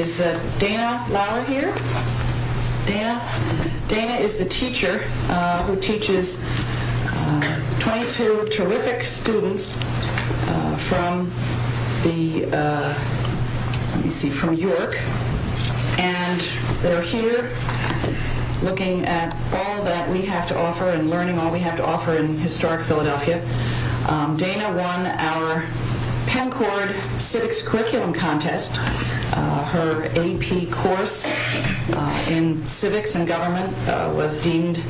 Is Dana Lauer here? Dana is the teacher who teaches 22 terrific students from York and they're here looking at all that we have to offer and learning all we have to offer in Historic Philadelphia. Dana won our PennCord civics curriculum contest. Her AP course in civics and government was deemed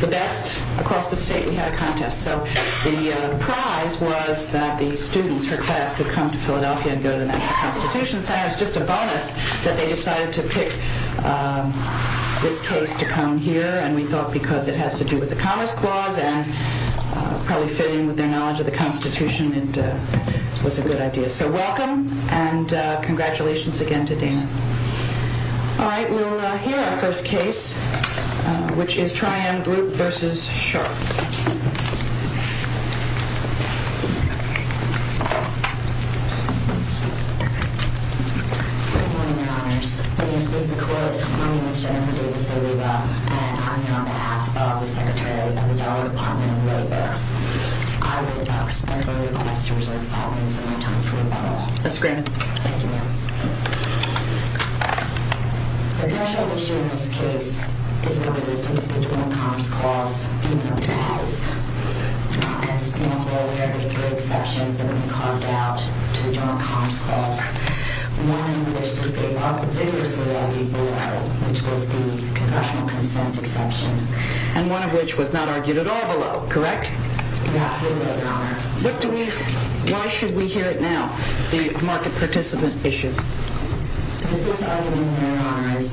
the best across the state. We had a contest so the prize was that the students, her class could come to Philadelphia and go to the National Constitution Center. It was just a bonus that they decided to pick this case to come here and we thought because it has to do with the Commerce Clause and probably fitting with their knowledge of the Constitution it was a good idea. So welcome and congratulations again to Dana. Alright we'll hear our first case which is Tri-MGroup v. Sharp. Good morning your honors. My name is Jennifer Davis Oliva and I'm here on behalf of the Secretary of the Dollar Department of Labor. I respectfully request to reserve five minutes of my time for rebuttal. The congressional issue in this case is related to the Commerce Clause and there are three exceptions that have been carved out to the Commerce Clause. One of which was the Congressional Consent Exception and one of which was not argued at all below, correct? You're absolutely right your honor. Why should we hear it now, the market participant issue? The state's argument here your honor is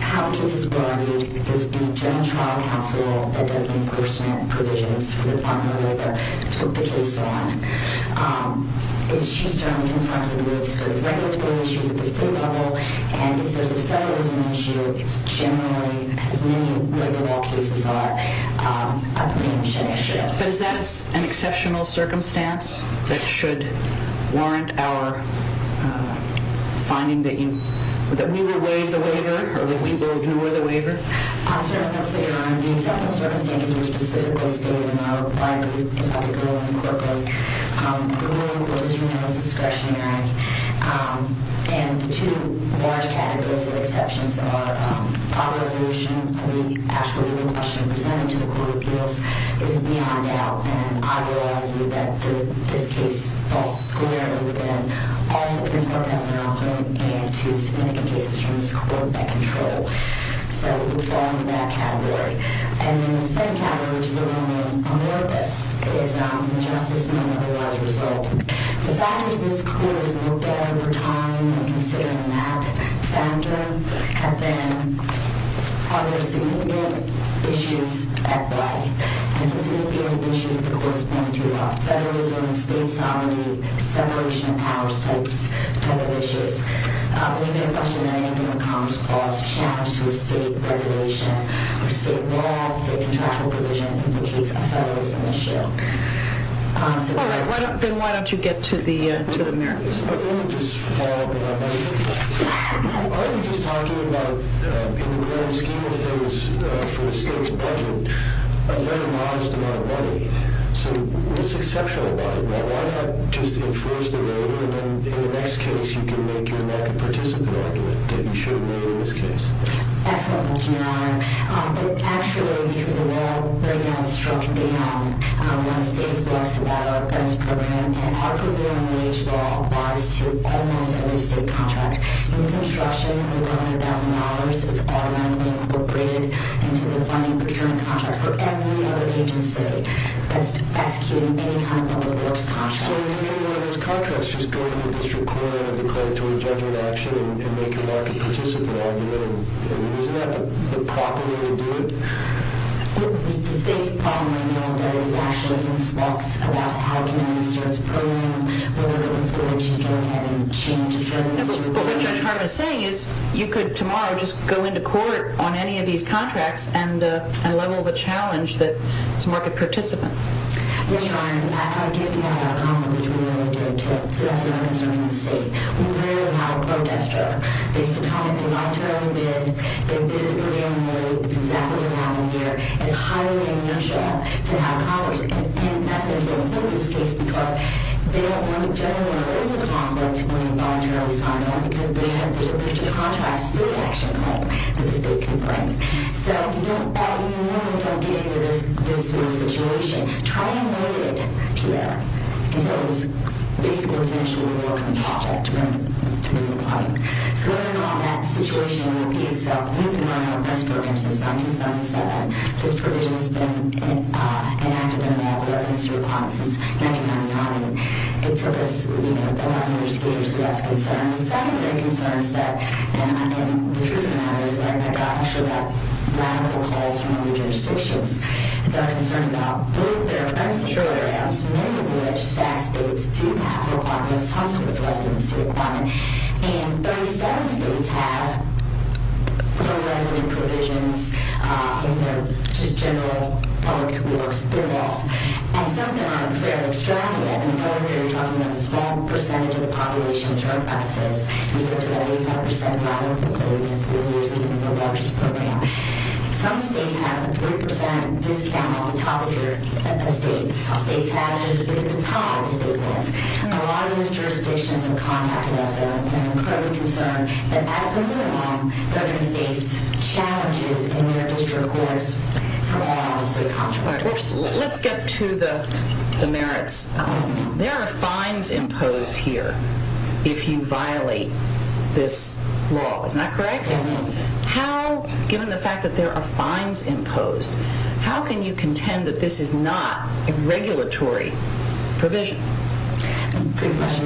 how cases were argued is the General Trial Council that does the impersonate provisions for the Department of Labor took the case on. But is that an exceptional circumstance that should warrant our finding that we will waive the waiver or that we will ignore the waiver? Your honor, the exceptional circumstances were specifically stated in our review of the bill in the court book. The rule of the court is remanded discretionary and the two large categories of exceptions are our resolution of the actual legal question presented to the court of appeals is beyond doubt and I would argue that this case falls squarely within all Supreme Court testimony and to significant cases from this court that control. So it would fall into that category. And then the second category which is a little more amorphous is non-conjustice and unlawful as a result. The factors this court has looked at over time in considering that factor have been are there significant issues at play? And significant issues the court has pointed to are federalism, state sovereignty, separation of powers type of issues. There's been a question that I think in the Commerce Clause challenged to a state regulation or state law, state contractual provision indicates a federalism issue. All right. Then why don't you get to the merits? Let me just follow up on that. Are you just talking about in the grand scheme of things for the state's budget a very modest amount of money? So what's exceptional about it? Why not just enforce the waiver and then in the next case you can make your market participant argument that you shouldn't waive in this case? Excellent question, Your Honor. But actually because the law right now is struck down. When the state is blessed about our best program, our provisional wage law applies to almost every state contract. In construction, the $100,000 is automatically incorporated into the funding procuring contract for every other agency that's executing any kind of public works contract. So would any one of those contracts just go to the district court and declare it to a judgment action and make your market participant argument? Isn't that the proper way to do it? The state's problem right now is actually in this box about how to manage the state's program. We're looking forward to going ahead and changing that. But what Judge Hart is saying is you could tomorrow just go into court on any of these contracts and level the challenge that it's a market participant. Yes, Your Honor. In fact, our case we have had a conflict between the military and the state. So that's not a concern from the state. We rarely have a protester. They sometimes voluntarily bid. They bid at the beginning of the year. It's exactly what happened here. It's highly unusual to have a conflict. And that's going to be important in this case because they don't want to judge anyone who has a conflict when they voluntarily sign it because there's a contract state action claim that the state can bring. So you really don't get into this situation. Try and avoid it here until it's basically finished with the work on the project to bring the claim. So in all that, the situation will be itself. We've been running our best program since 1977. This provision has been enacted in all the residency requirements since 1999. It took us a number of years to get to this. So that's a concern. The second big concern is that, and the truth of the matter is that I've gotten a lot of radical calls from other jurisdictions. They're concerned about both their current programs, many of which states do have requirements, tons of residency requirements. And 37 states have no residency provisions in their just general public works programs. And some of them are very extravagant. In particular, you're talking about a small percentage of the population in term classes. There's about 85% who haven't completed in three years even their largest program. Some states have a 3% discount on top of their states. Some states have, but it's a tie with state laws. A lot of these jurisdictions have contacted us and are incredibly concerned that as we move along, certain states challenge us in their district courts for all of the state contracts. Let's get to the merits. There are fines imposed here if you violate this law. Is that correct? How, given the fact that there are fines imposed, how can you contend that this is not a regulatory provision? That's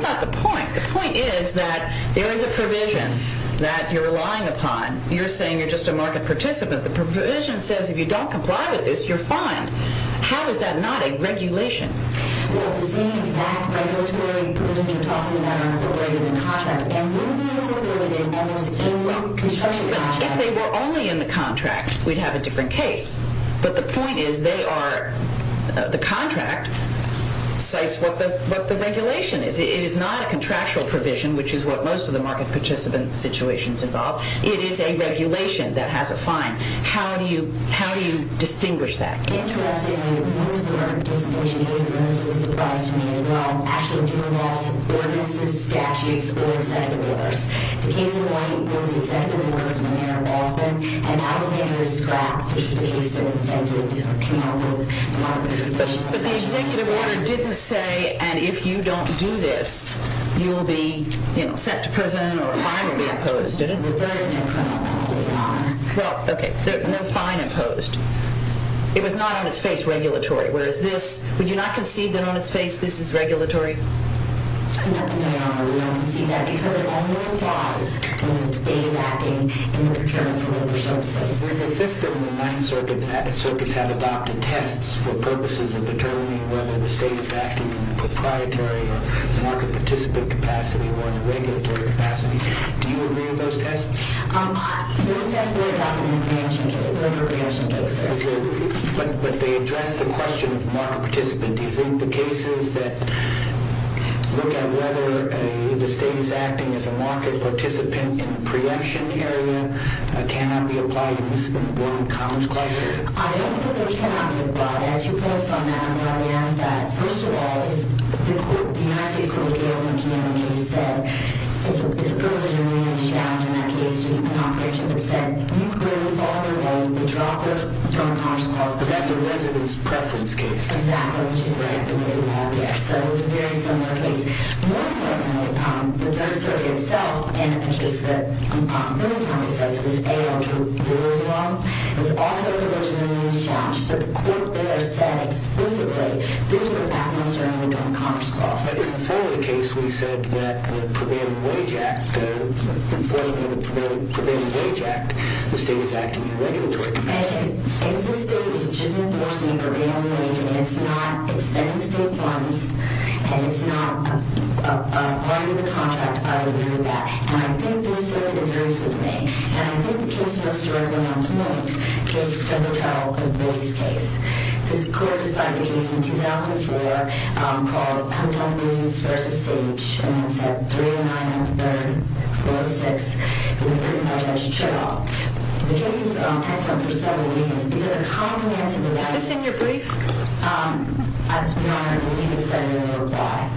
not the point. The point is that there is a provision that you're relying upon. You're saying you're just a market participant. The provision says if you don't comply with this, you're fine. How is that not a regulation? Well, it's the same exact regulatory provision you're talking about are incorporated in the contract. And we would be able to validate almost any construction contract. If they were only in the contract, we'd have a different case. But the point is the contract cites what the regulation is. It is not a contractual provision, which is what most of the market participant situations involve. It is a regulation that has a fine. How do you distinguish that? Interestingly, most of the market participation cases, and this was a surprise to me as well, actually do involve some ordinances, statutes, or executive orders. The case in white was the executive order from the mayor of Boston, and Alexander's scrap is the case that came up with the market participation statute. But the executive order didn't say, and if you don't do this, you'll be sent to prison or a fine will be imposed, did it? That's what it refers to in criminal law. Well, okay, no fine imposed. It was not on its face regulatory, whereas this, would you not concede that on its face this is regulatory? No, Your Honor, we don't concede that because it only applies when the state is acting in return for labor services. When the Fifth and the Ninth Circuits have adopted tests for purposes of determining whether the state is acting in a proprietary or market participant capacity or in a regulatory capacity, do you agree with those tests? Those tests were adopted in a preemption case, a labor preemption case. But they address the question of market participant. Do you think the cases that look at whether the state is acting as a market participant in a preemption area cannot be applied in this one Congress class? I don't think they cannot be applied. I have two points on that. I'm going to ask that. First of all, the United States Court of Appeals in the Kenan case said it's a privilege and immunity challenge. In that case, there's an operation that said you clearly follow the law. You withdraw from the Congress class, but that's a resident's preference case. Exactly, which is exactly what we have here. So it's a very similar case. More importantly, the Third Circuit itself, in the case that the third time it says was A.R. Drew, it was also a privilege and immunity challenge. But the court there said explicitly this would pass most directly to a Congress class. In the following case, we said that the Prevailing Wage Act, the enforcement of the Prevailing Wage Act, the state was acting in regulatory capacity. If the state is just enforcing a prevailing wage and it's not expending state funds and it's not arguing the contract, I don't hear that. And I think this circuit agrees with me. And I think the case most directly on tonight doesn't tell the Booty's case. This court decided a case in 2004 called Hotel Booties v. Sage, and it's at 309.346. It was written by Judge Cheraw. The case has come for several reasons. It doesn't commonly answer the question. Is this in your brief? I'm not going to believe it, so I'm going to reply.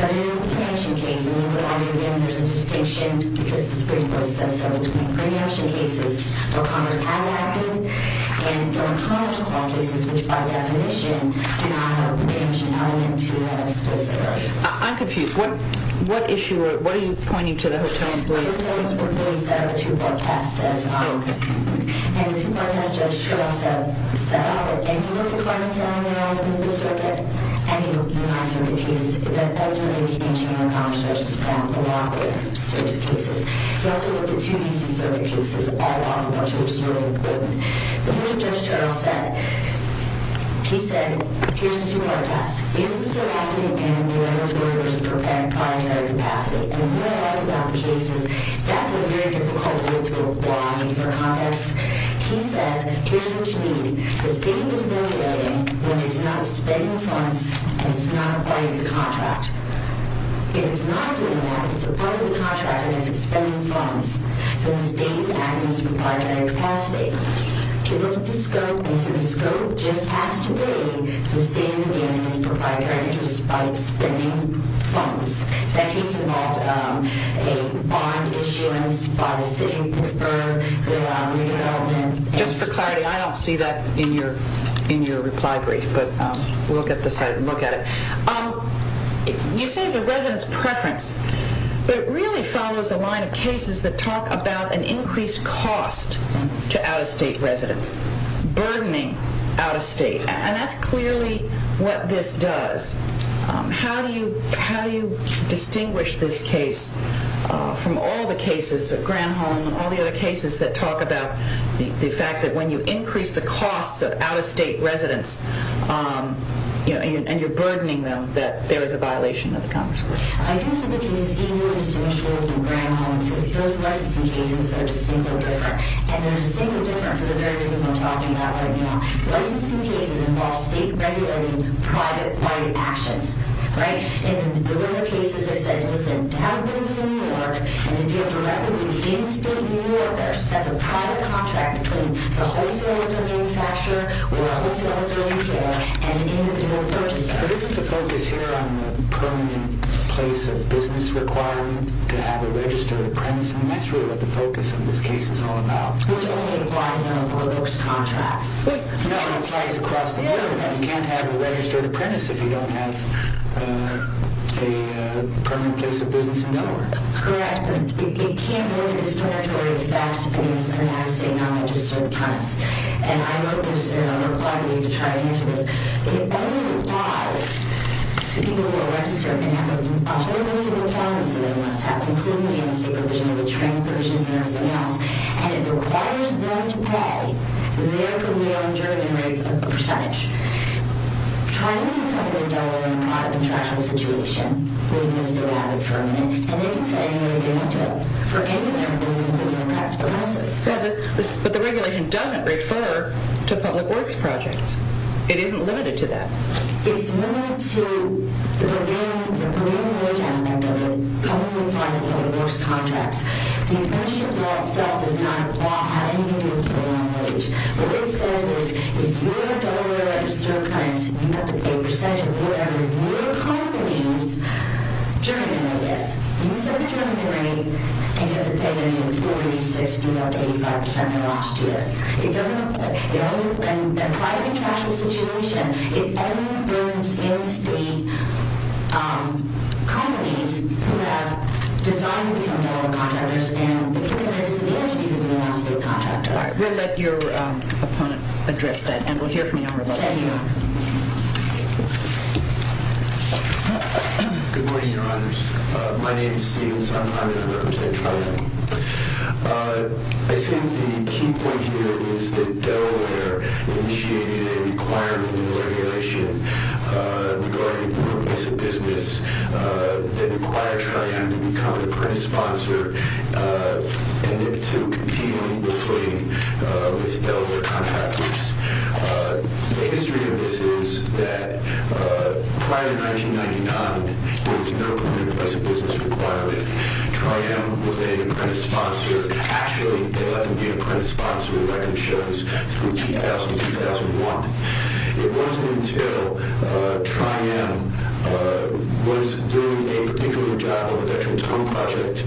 But it is a preemption case. When you put it out here again, there's a distinction because the Supreme Court said so between preemption cases where Congress has acted and those Congress class cases which by definition do not have a preemption element to them explicitly. I'm confused. What issue or what are you pointing to the Hotel Booties case for? The Hotel Booties set up a two-part test. And the two-part test Judge Cheraw set up. He looked at any of the Carpenter-Allen arrangements of the circuit and he looked at the United Circuit cases. That's when he became chairman of Congress. He also looked at two DC circuit cases, all of which are extremely important. In addition, Judge Cheraw said, he said, here's the two-part test. Is this still active in the regulatory versus proprietary capacity? And what I like about the case is that's a very difficult word to apply for context. He says, here's what you need. The state is worth a million when it's not spending funds and it's not acquiring the contract. If it's not doing that, if it's acquiring the contract and it's not spending funds, then the state is acting as a proprietary capacity. He looked at the scope and he said the scope just passed away so the state is engaged in its proprietary interests by spending funds. And he's involved in bond issuance by the city of Pittsburgh, the redevelopment. Just for clarity, I don't see that in your reply brief, but we'll look at it. You say it's a resident's preference, but it really follows a line of cases that talk about an increased cost to out-of-state residents, burdening out-of-state. And that's clearly what this does. How do you distinguish this case from all the cases of Granholm and all the other cases that talk about the fact that when you increase the costs of out-of-state residents and you're burdening them that there is a violation of the Congress. I think that the case is easily distinguishable from Granholm because those licensing cases are distinctly different. And they're distinctly different for the very reasons I'm talking about right now. Licensing cases involve state-regulating, private-wide actions. In the other cases, it said to have a business in New York and to deal directly with the in-state New Yorkers. That's a private contract between the wholesaler and the manufacturer or the wholesaler and the retailer and the individual purchaser. Isn't the focus here on the permanent place of business requiring to have a registered premise? And that's really what the focus of this case is all about. Which only applies in our foreclosed contracts. No, it applies across the board. You can't have a registered premise if you don't have a permanent place of business in Delaware. Correct, but it can't have a discriminatory effect against an out-of-state, non-registered premise. And I know there's a requirement to try and answer this. It only applies to people who are registered and have a whole list of requirements that they must have, including the in-state provision and the train provisions and everything else. And it requires them to pay their career and journey rates of a percentage. Trying to cover Delaware in a private contractual situation, we must allow it for a minute. And it is annually limited for any of the reasons that impact the process. But the regulation doesn't refer to public works projects. It isn't limited to that. It's limited to the career and work aspect of it, The apprenticeship law itself does not have anything to do with program wage. What it says is, if you're a Delaware registered premise, you have to pay a percentage of whatever your company's journey rate is. You must have a journey rate, and you have to pay a 40%, 60%, up to 85% in the last year. It doesn't apply in a private contractual situation. It only applies to in-state companies who have decided to become Delaware contractors and the participants in the entities that they want to be contracted by. We'll let your opponent address that, and we'll hear from you on rebuttal. Thank you, Your Honor. Good morning, Your Honors. My name is Steven Sondheim, and I represent Trident. I think the key point here is that Delaware initiated a requirement in the regulation regarding the remittance of business that required Trident to become an apprentice sponsor and to compete on equal footing with Delaware contractors. The history of this is that prior to 1999, there was no permanent remittance of business requirement. Trident was an apprentice sponsor. Actually, they let them be an apprentice sponsor in record shows from 2000 to 2001. It wasn't until Trident was doing a particular job on the Veterans Home Project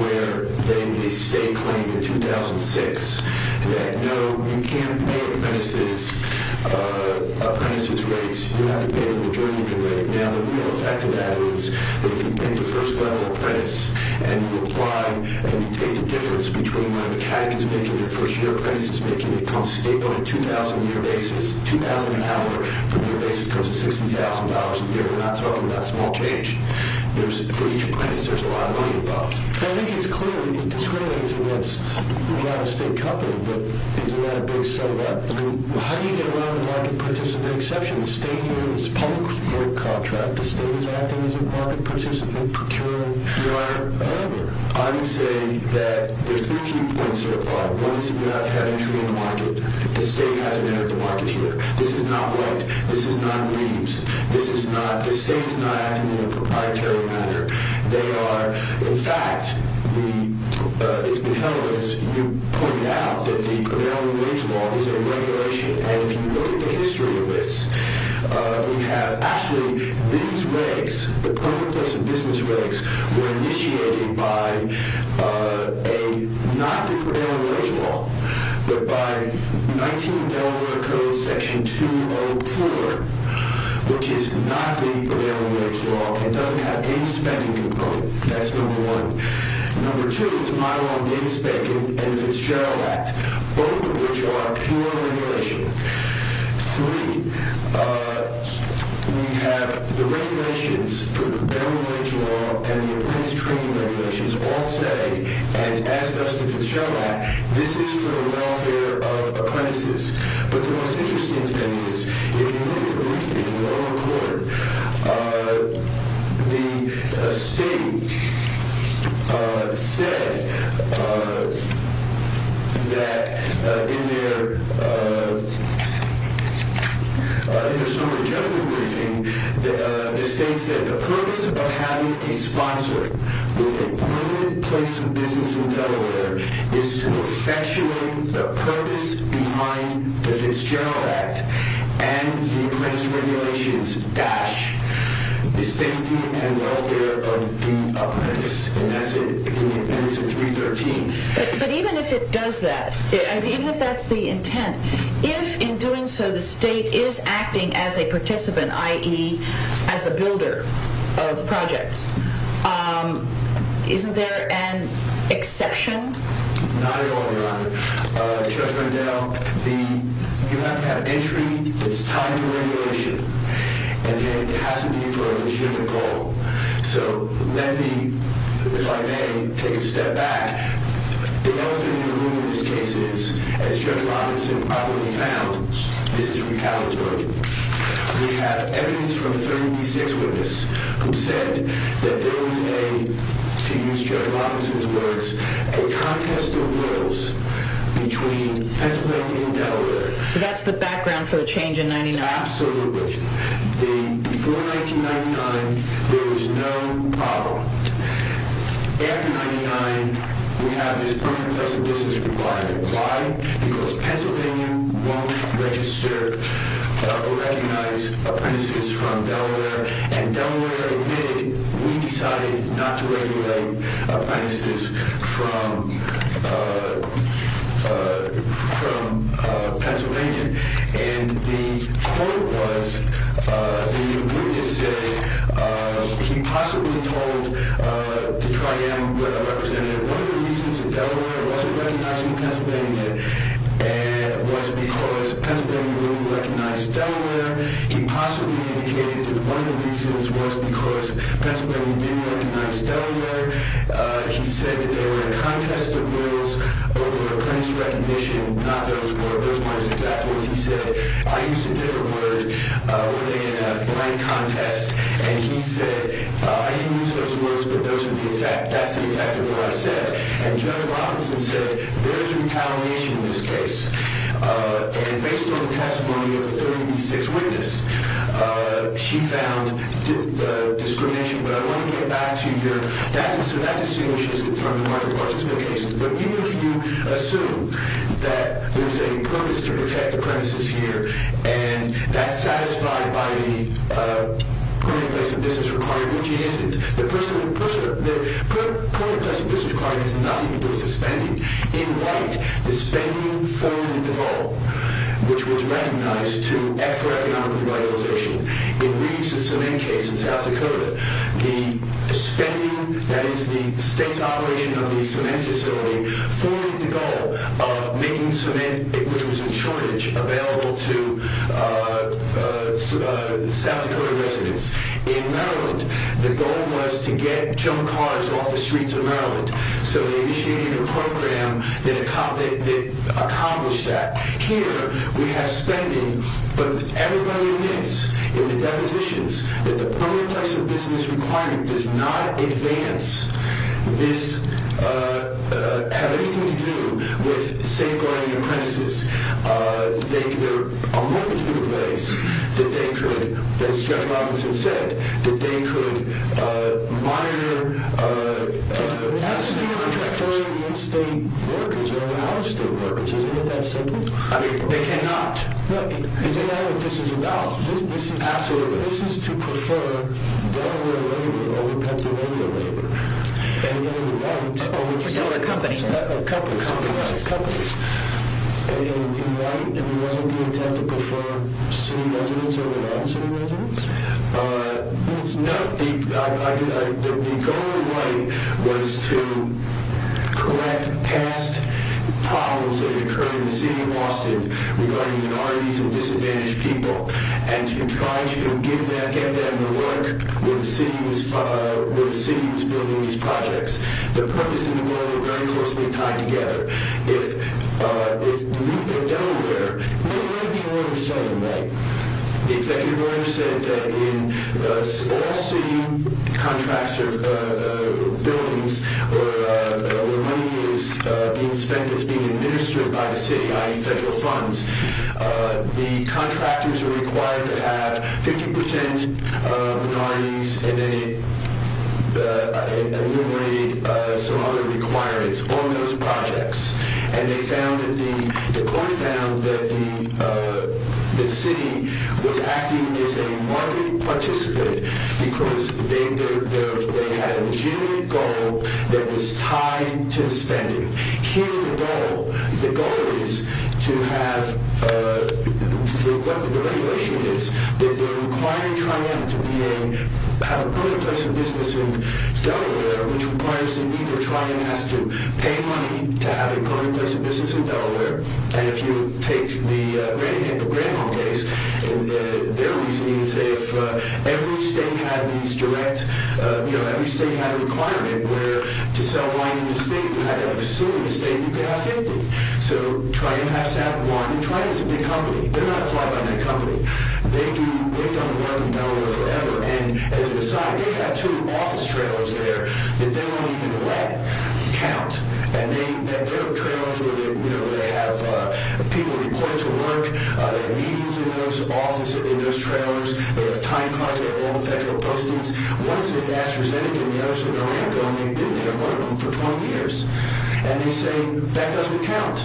where they made a state claim in 2006 that, no, you can't pay apprentices rates. You have to pay a majority rate. Now, the real effect of that is that if you take the first-level apprentice and you apply and you take the difference between what a mechanic is making and a first-year apprentice is making, it comes to date on a 2,000-year basis. 2,000 an hour per year basis comes to $60,000 a year. We're not talking about small change. For each apprentice, there's a lot of money involved. I think it's clear that you're discriminating against a lot of state companies, but isn't that a big set-up? I mean, how do you get around the market participants? There's an exception. The state has a public vote contract. The state is acting as a market participant, procuring. Your Honor, I would say that there are three key points here. One is that we have to have entry in the market. The state hasn't entered the market here. This is not white. This is not leaves. The state is not acting in a proprietary manner. In fact, it's been held as you pointed out that the prevailing wage law is a regulation, and if you look at the history of this, we have actually these regs, the permanent lesson business regs were initiated by not the prevailing wage law, but by 19 Delaware Code Section 204, which is not the prevailing wage law. It doesn't have any spending component. That's number one. Number two is my law and Davis-Bacon and the Fitzgerald Act, both of which are pure regulation. Three, we have the regulations for the prevailing wage law and the apprentice training regulations all say, and as does the Fitzgerald Act, But the most interesting thing is, if you look at the briefing in the lower court, the state said that in their summary judgment briefing, the state said the purpose of having a sponsor with a permanent place of business in Delaware is to effectuate the purpose behind the Fitzgerald Act and the apprentice regulations dash the safety and welfare of the apprentice. And that's in 313. But even if it does that, even if that's the intent, if in doing so the state is acting as a participant, i.e. as a builder of projects, isn't there an exception? Not at all, Your Honor. Judge Rendell, you have to have entry that's tied to regulation. And then it has to be for a legitimate goal. So let me, if I may, take a step back. The elephant in the room in this case is, as Judge Robinson probably found, this is retaliatory. We have evidence from 36 witnesses who said that there was a, to use Judge Robinson's words, a contest of wills between Pennsylvania and Delaware. So that's the background for the change in 99? Absolutely. Before 1999, there was no problem. After 99, we have this permanent place of business requirement. Why? Because Pennsylvania won't register or recognize apprentices from Delaware. And Delaware admitted, we decided not to regulate apprentices from Pennsylvania. And the court was, the witness said, he possibly told to try out with a representative. One of the reasons that Delaware wasn't recognizing Pennsylvania was because Pennsylvania wouldn't recognize Delaware. He possibly indicated that one of the reasons was because Pennsylvania didn't recognize Delaware. He said that there were a contest of wills over apprentice recognition, not those were. Those weren't his exact words. He said, I used a different word. We're doing a blank contest. And he said, I didn't use those words, but those are the effect. And Judge Robinson said, there's retaliation in this case. And based on the testimony of the 30B6 witness, she found the discrimination. But I want to get back to your, that distinguishes it from the market participant cases. But even if you assume that there's a premise to protect apprentices here, and that's satisfied by the permanent place of business requirement, which it isn't. The permanent place of business requirement has nothing to do with the spending. In white, the spending formed the goal, which was recognized to act for economic revitalization. In Reeves' cement case in South Dakota, the spending, that is the state's operation of the cement facility, formed the goal of making cement, which was in shortage, available to South Dakota residents. In Maryland, the goal was to get junk cars off the streets of Maryland. So they initiated a program that accomplished that. Here, we have spending, but everybody admits in the depositions, that the permanent place of business requirement does not advance this, have anything to do with safeguarding apprentices. There are a multitude of ways that they could, as Jeff Robinson said, that they could monitor... It has to be preferring in-state workers over out-of-state workers. Isn't it that simple? They cannot. Isn't that what this is about? Absolutely. This is to prefer Delaware labor over Pennsylvania labor. Or Delaware companies. Companies. And it wasn't the intent to prefer city residents over non-city residents. The goal in light was to correct past problems that occurred in the city of Austin regarding minorities and disadvantaged people, and to try to give them the work where the city was building these projects. The purpose and the goal were very closely tied together. If you look at Delaware, there may be a way of saying that. The executive order said that in all city contracts of buildings where money is being spent that's being administered by the city, i.e. federal funds, the contractors are required to have 50% minorities and then it enumerated some other requirements on those projects. And the court found that the city was acting as a market participant because they had a legitimate goal that was tied to spending. Here, the goal is to have what the regulation is, that they're requiring Triumph to have a permanent place of business in Delaware, which requires that either Triumph has to pay money to have a permanent place of business in Delaware, and if you take the Granville case, their reasoning is that if every state had a requirement where to sell wine in the state, if you had a facility in the state, you could have 50. So, Triumph has to have one. Triumph is a big company. They're not a fly-by-night company. They've done the work in Delaware forever, and as an aside, they have two office trailers there that they won't even let count. And they have trailers where people report to work, they have meetings in those trailers, they have time contracts with all the federal postings. One is with AstraZeneca and the other is with Naranjo, and they've been there, one of them, for 20 years. And they say, that doesn't count.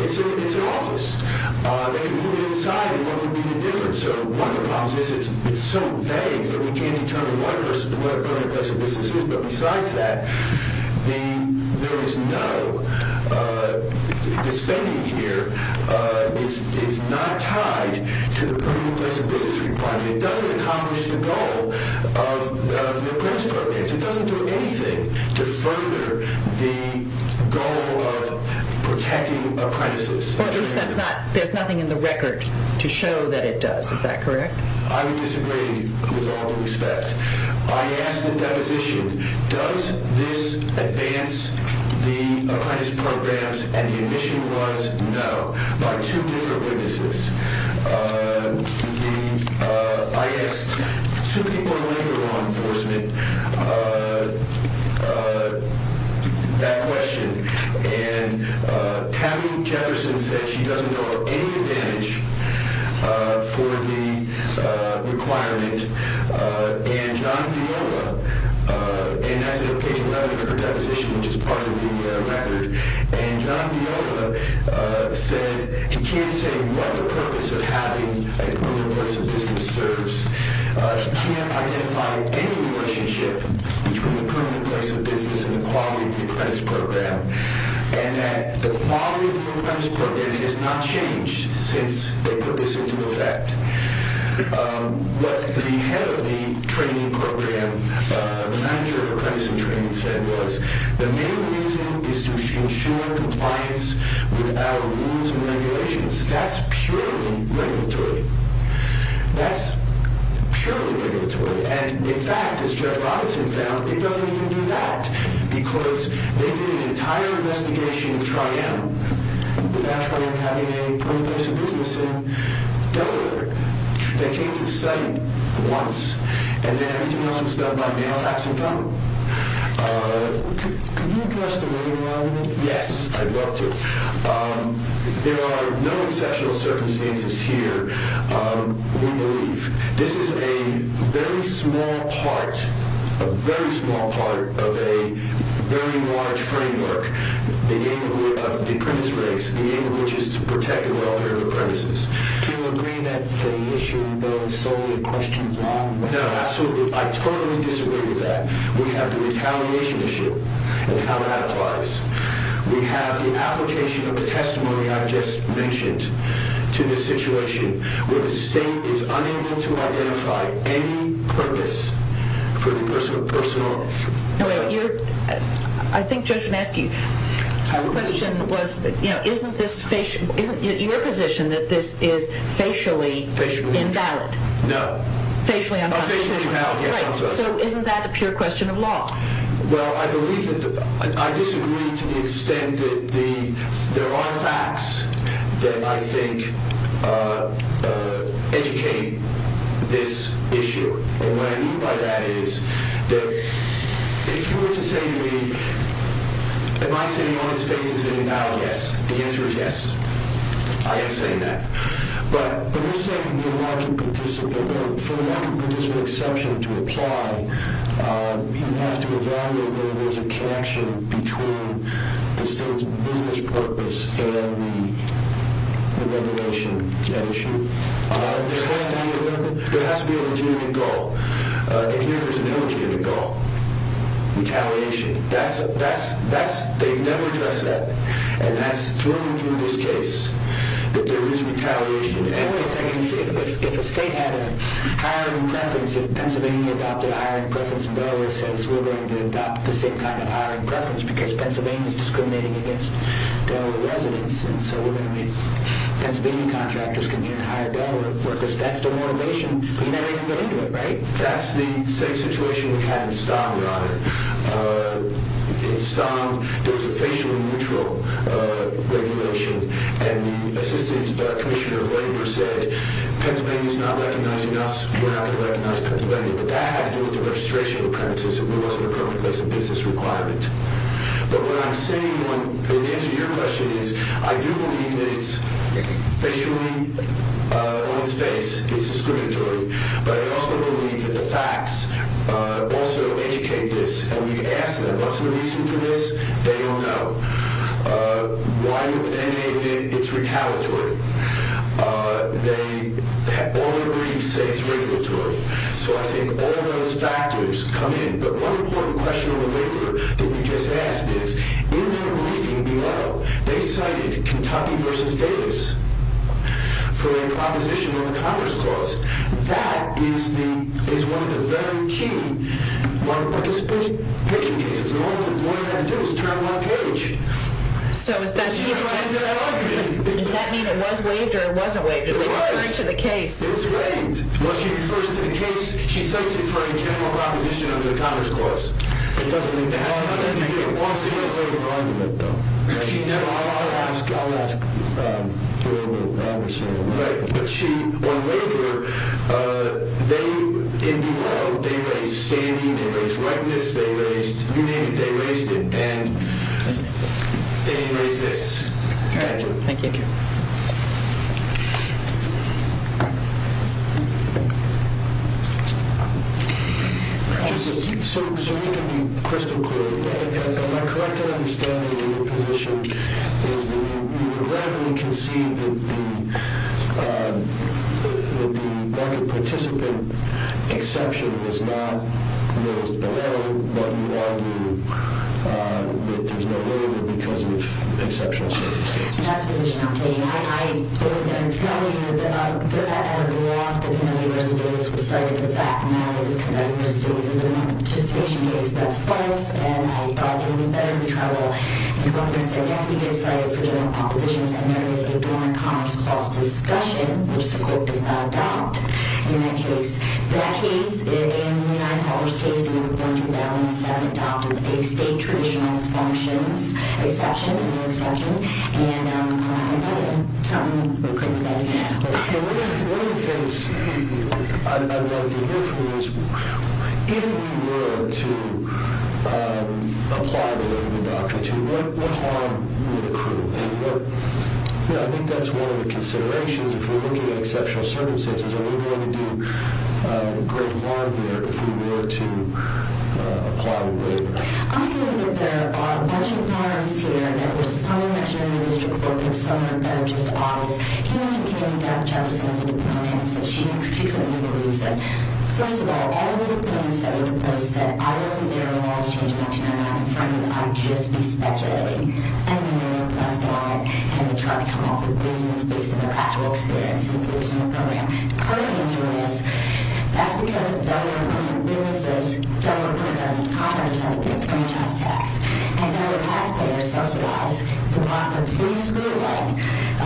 It's an office. They can move it inside, and what would be the difference? So, one of the problems is it's so vague that we can't determine what a permanent place of business is, but besides that, there is no, the spending here is not tied to the permanent place of business requirement. It doesn't accomplish the goal of the apprentice programs. It doesn't do anything to further the goal of protecting apprentices. There's nothing in the record to show that it does. Is that correct? I would disagree with all due respect. I asked the deposition, does this advance the apprentice programs? And the admission was, no, by two different witnesses. I asked two people in labor law enforcement that question, and Tammy Jefferson said she doesn't know of any advantage for the requirement, and John Viola, and that's in page 11 of her deposition, which is part of the record, and John Viola said he can't say what the purpose of having a permanent place of business serves. He can't identify any relationship between the permanent place of business and the quality of the apprentice program, and that the quality of the apprentice program has not changed since they put this into effect. What the head of the training program, the manager of apprentice training said was, the main reason is to ensure compliance with our rules and regulations. That's purely regulatory. That's purely regulatory. And, in fact, as Judge Robinson found, it doesn't even do that, because they did an entire investigation of Tri-M without Tri-M having a permanent place of business in Delaware. They came to the site once, and then everything else was done by mail, fax, and phone. Yes, I'd love to. There are no exceptional circumstances here, we believe. This is a very small part, a very small part of a very large framework, the aim of which is to protect the welfare of apprentices. No, absolutely, I totally disagree with that. We have the retaliation issue, and how that applies. We have the application of the testimony I've just mentioned to this situation, where the state is unable to identify any purpose for the personal... I think Judge Van Esky's question was, isn't your position that this is facially invalid? No. Facially unconstitutional. Facially invalid, yes. So isn't that a pure question of law? Well, I disagree to the extent that there are facts that I think educate this issue. And what I mean by that is that if you were to say to me, am I sitting on his face as an invalid? Yes. The answer is yes. I am saying that. But when you're saying the market participant, for the market participant exception to apply, you have to evaluate whether there's a connection between the state's business purpose and the regulation issue. There has to be a legitimate goal, and here there's an illegitimate goal. Retaliation. They've never addressed that, and that's through this case, that there is retaliation. If a state had a hiring preference, if Pennsylvania adopted a hiring preference and Delaware says, we're going to adopt the same kind of hiring preference because Pennsylvania is discriminating against Delaware residents and so we're going to make Pennsylvania contractors come in and hire Delaware workers, that's demotivation. We never even get into it, right? That's the same situation we had in Stom, your Honor. In Stom, there was a facially neutral regulation, and the Assistant Commissioner of Labor said, Pennsylvania's not recognizing us, we're not going to recognize Pennsylvania. But that had to do with the registration of premises. It wasn't a permanent place of business requirement. But what I'm saying, and the answer to your question is, I do believe that it's facially on his face, it's discriminatory, but I also believe that the facts also educate this, and we've asked them, what's the reason for this? They don't know. Why would they make it? It's retaliatory. All their briefs say it's regulatory. So I think all those factors come in. But one important question on the waiver that we just asked is, in their briefing below, they cited Kentucky v. Davis for a proposition on the Congress clause. That is one of the very key participation cases. And all they had to do was turn one page. So does that mean it was waived or it wasn't waived? It was. They referred it to the case. It was waived. Well, she refers to the case, she cites it for a general proposition under the Congress clause. It doesn't make sense. It doesn't make sense. I'll ask. I'll ask. But she, on waiver, they raised standing, they raised redness, they raised, you named it, they raised it, and they raised this. Thank you. Thank you. Thank you. That's a position I'm taking. I was going to tell you that as of last, that Kentucky v. Davis was cited for the fact and that was Kentucky v. Davis as a participation case. That's false. And I thought it would be better if we had a reference that, yes, we did cite it for general propositions, and that is a donor Congress clause discussion, which the court does not adopt in that case. That case and the nine-callers case in November 2007 adopted a state traditional functions exception, a new exception, and I'm not going to tell you what the best way out is. One of the things I'd like to hear from you is if we were to apply the waiver doctrine to you, what harm would accrue? And I think that's one of the considerations if you're looking at exceptional circumstances. Are we going to do a great harm here if we were to apply the waiver? I think that there are a bunch of harms here. Somebody mentioned it in the district court this summer that are just obvious. Can you explain to Dr. Jefferson, as a deputant, if she can give you the reason? First of all, all of the deputants that were proposed said, I wasn't there when the laws changed in 1999, and frankly, I'd just be speculating. I mean, they were blessed by it, and they tried to come up with reasons based on their actual experience and experience in the program. Her answer is, that's because it's Delaware-funded businesses. Delaware-funded business contractors have to pay the franchise tax, and Delaware taxpayers subsidize the block of free schooling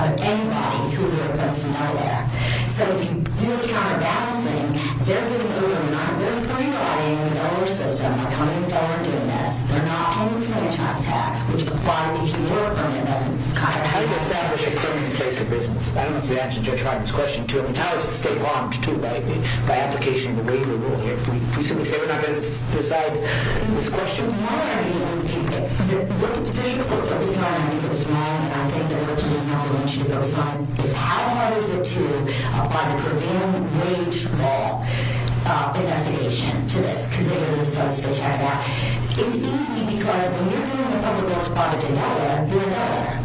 of anybody who is a representative of Delaware. So if you do the counter-balancing, they're getting over it. There's three bodies in the Delaware system that are coming to Delaware and doing this. They're not paying the franchise tax, which would apply if you were a company that doesn't contract. How do you establish a permanent place of business? I don't know if you answered Judge Wagner's question, too. I mean, how is it state-bombed, too, by application of the waiver rule? If we simply say we're not going to decide on this question, why are you going to keep it? The district court, at this time, I think it was May, and I think they're working on it, as I mentioned, is highlighting the two by the Purdue Wage Law investigation to this, because they've already started to check that. It's easy, because when you're doing the public works bondage in Delaware, you're in Delaware.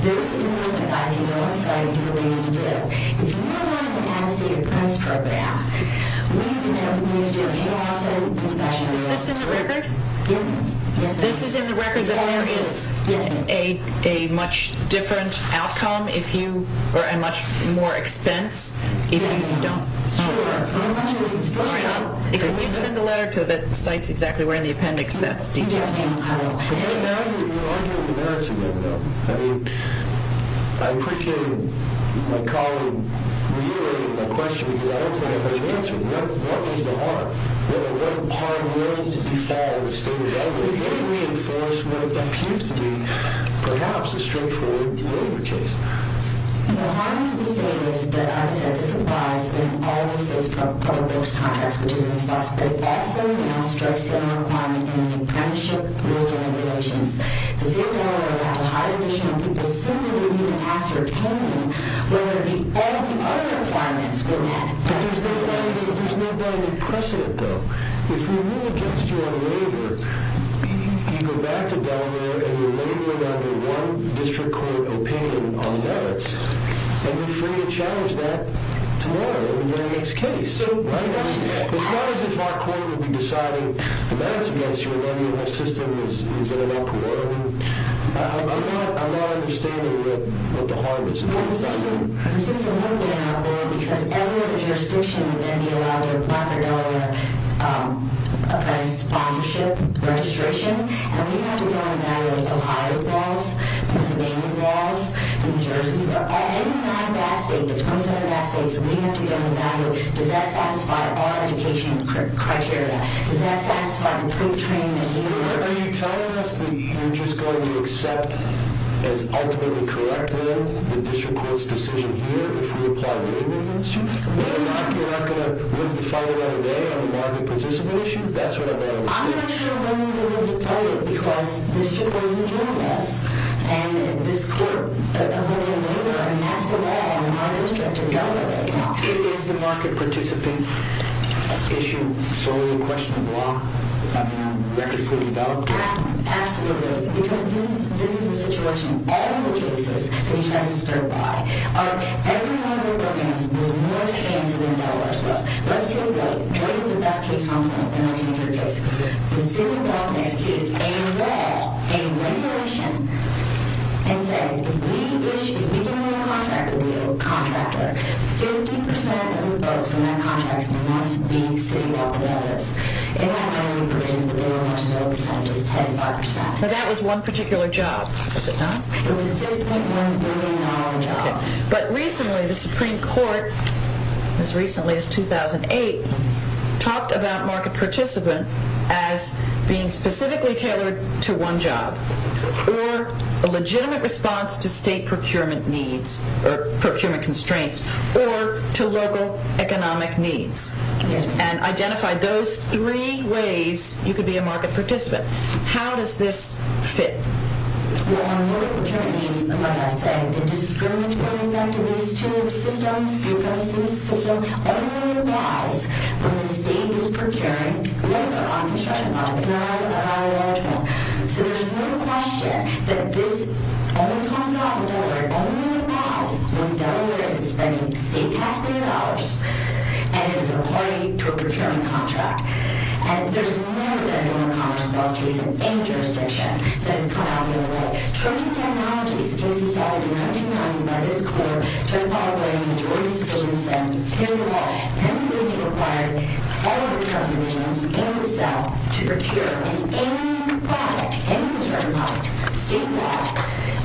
There is enormous capacity on the site. You know what you need to do. If you're not in the capacity of the price for a back, what you can do is do a payout settlement procession. Is this in the record? Yes, ma'am. Yes, ma'am. This is in the record that there is a much different outcome if you are at much more expense if you don't. Sure. Can you send a letter to the sites exactly where in the appendix that's detailed? We're arguing the merits of that, though. I mean, I appreciate my colleague reiterating my question, because I don't think I've answered it. What is the harm? What harm does he fall as a state of Delaware? Does this reinforce what appears to be perhaps a straightforward waiver case? The harm to the state is that, like I said, this applies in all the state's public works contracts, which is impossible. That certainly now strikes a requirement in the apprenticeship rules and regulations. To say that Delaware would have to hire additional people simply would mean an ascertainment whether the other requirements were met. But there's not any precedent, though. If we rule against you on a waiver, you go back to Delaware and you're laboring under one district court opinion on merits, and you're free to challenge that tomorrow in the next case. Right? It's not as if our court would be deciding the merits against you and then your whole system is in an awkward order. I'm not understanding what the harm is. The system wouldn't be in an awkward order because every other jurisdiction would then be allowed to apply for Delaware apprentice sponsorship registration. And we have to go and evaluate Ohio's laws, Pennsylvania's laws, New Jersey's laws. Any non-VAT state, the 27 VAT states, we have to go and evaluate. Does that satisfy our education criteria? Does that satisfy the pre-training that we require? Are you telling us that you're just going to accept as ultimately corrective the district court's decision here if we apply a waiver against you? You're not going to live to fight it right away on the market participant issue? That's what I'm asking. I'm not sure whether we're going to live to fight it because this should go to the jurisdiction. And this court would be a waiver. And that's the law. And our district is going to go with it. It is the market participant issue solely a question of law. I mean, the record's been developed. Absolutely. Because this is the situation. All of the cases that each has been spurred by are every one of their programs was more expensive than Delaware's was. Let's take a look. What is the best case argument in this particular case? The city of Boston executed a law, a regulation, and said if we issue, if we give away a contract to a contractor, 50% of the votes in that contract must be city of Boston dollars. If that money were put into the Bureau of Marshals, the percentage is 10%. But that was one particular job, was it not? It was a $6.1 billion job. But recently the Supreme Court, as recently as 2008, talked about market participant as being specifically tailored to one job or a legitimate response to state procurement needs or procurement constraints or to local economic needs and identified those three ways you could be a market participant. How does this fit? Well, when we look at procurement needs, like I said, the discriminatory effect of these two systems, due process system, only applies when the state is procuring labor on construction property, not on a large scale. So there's no question that this only comes out in Delaware. It only applies when Delaware is expending state taxpayer dollars and is a party to a procurement contract. And there's never been a Delaware Commerce Bill case in any jurisdiction that's come out the other way. Trojan Technologies case is already coming to mind by this court. Judge Paul Blaine, the jury decision, said, here's the law. Pennsylvania required all of its subdivisions in the South to procure its annual project, annual Trojan project, statewide,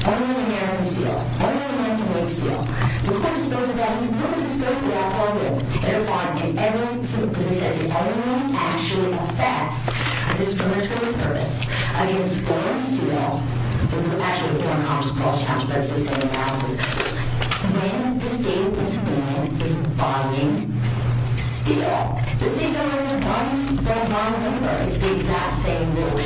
only in American Steel, only in American-made steel. The court disposed of that. It's not disposed of that program. They're fine. And as I said, the other rule actually affects the discriminatory purpose against foreign steel. This is actually the Delaware Commerce Clause challenge, but it's the same analysis. When the state is buying steel, the state government is buying from one member. It's the exact same rule.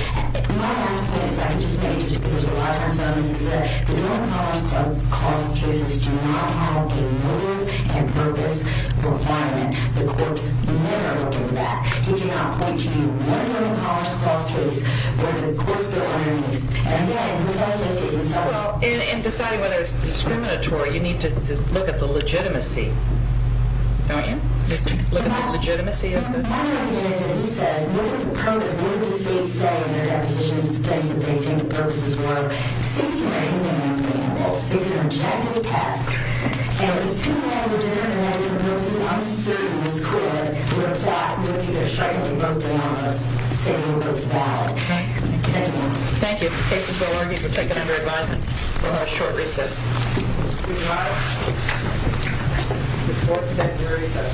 My last point is I can just make, just because there's a lot of transparency, is that the Delaware Commerce Clause cases do not have a motive and purpose requirement. The court's never looked into that. He did not point to one Delaware Commerce Clause case where the court's still underneath. And, again, who does this? Who's inside? Well, in deciding whether it's discriminatory, you need to look at the legitimacy. Don't you? Look at the legitimacy of it. My idea is that he says, look at the purpose. Look at what the states say in their depositions. It's the things that they think the purposes were. The states can write anything off the end of this. The states can reject the test. And if there's two languages that are related to the purposes I'm asserting this court would apply, we would be either striking them both down or saying we're both bad. Thank you. Thank you. The case is well argued. We'll take it under advisement. We'll have a short recess. We'll be right back. The court is at recess.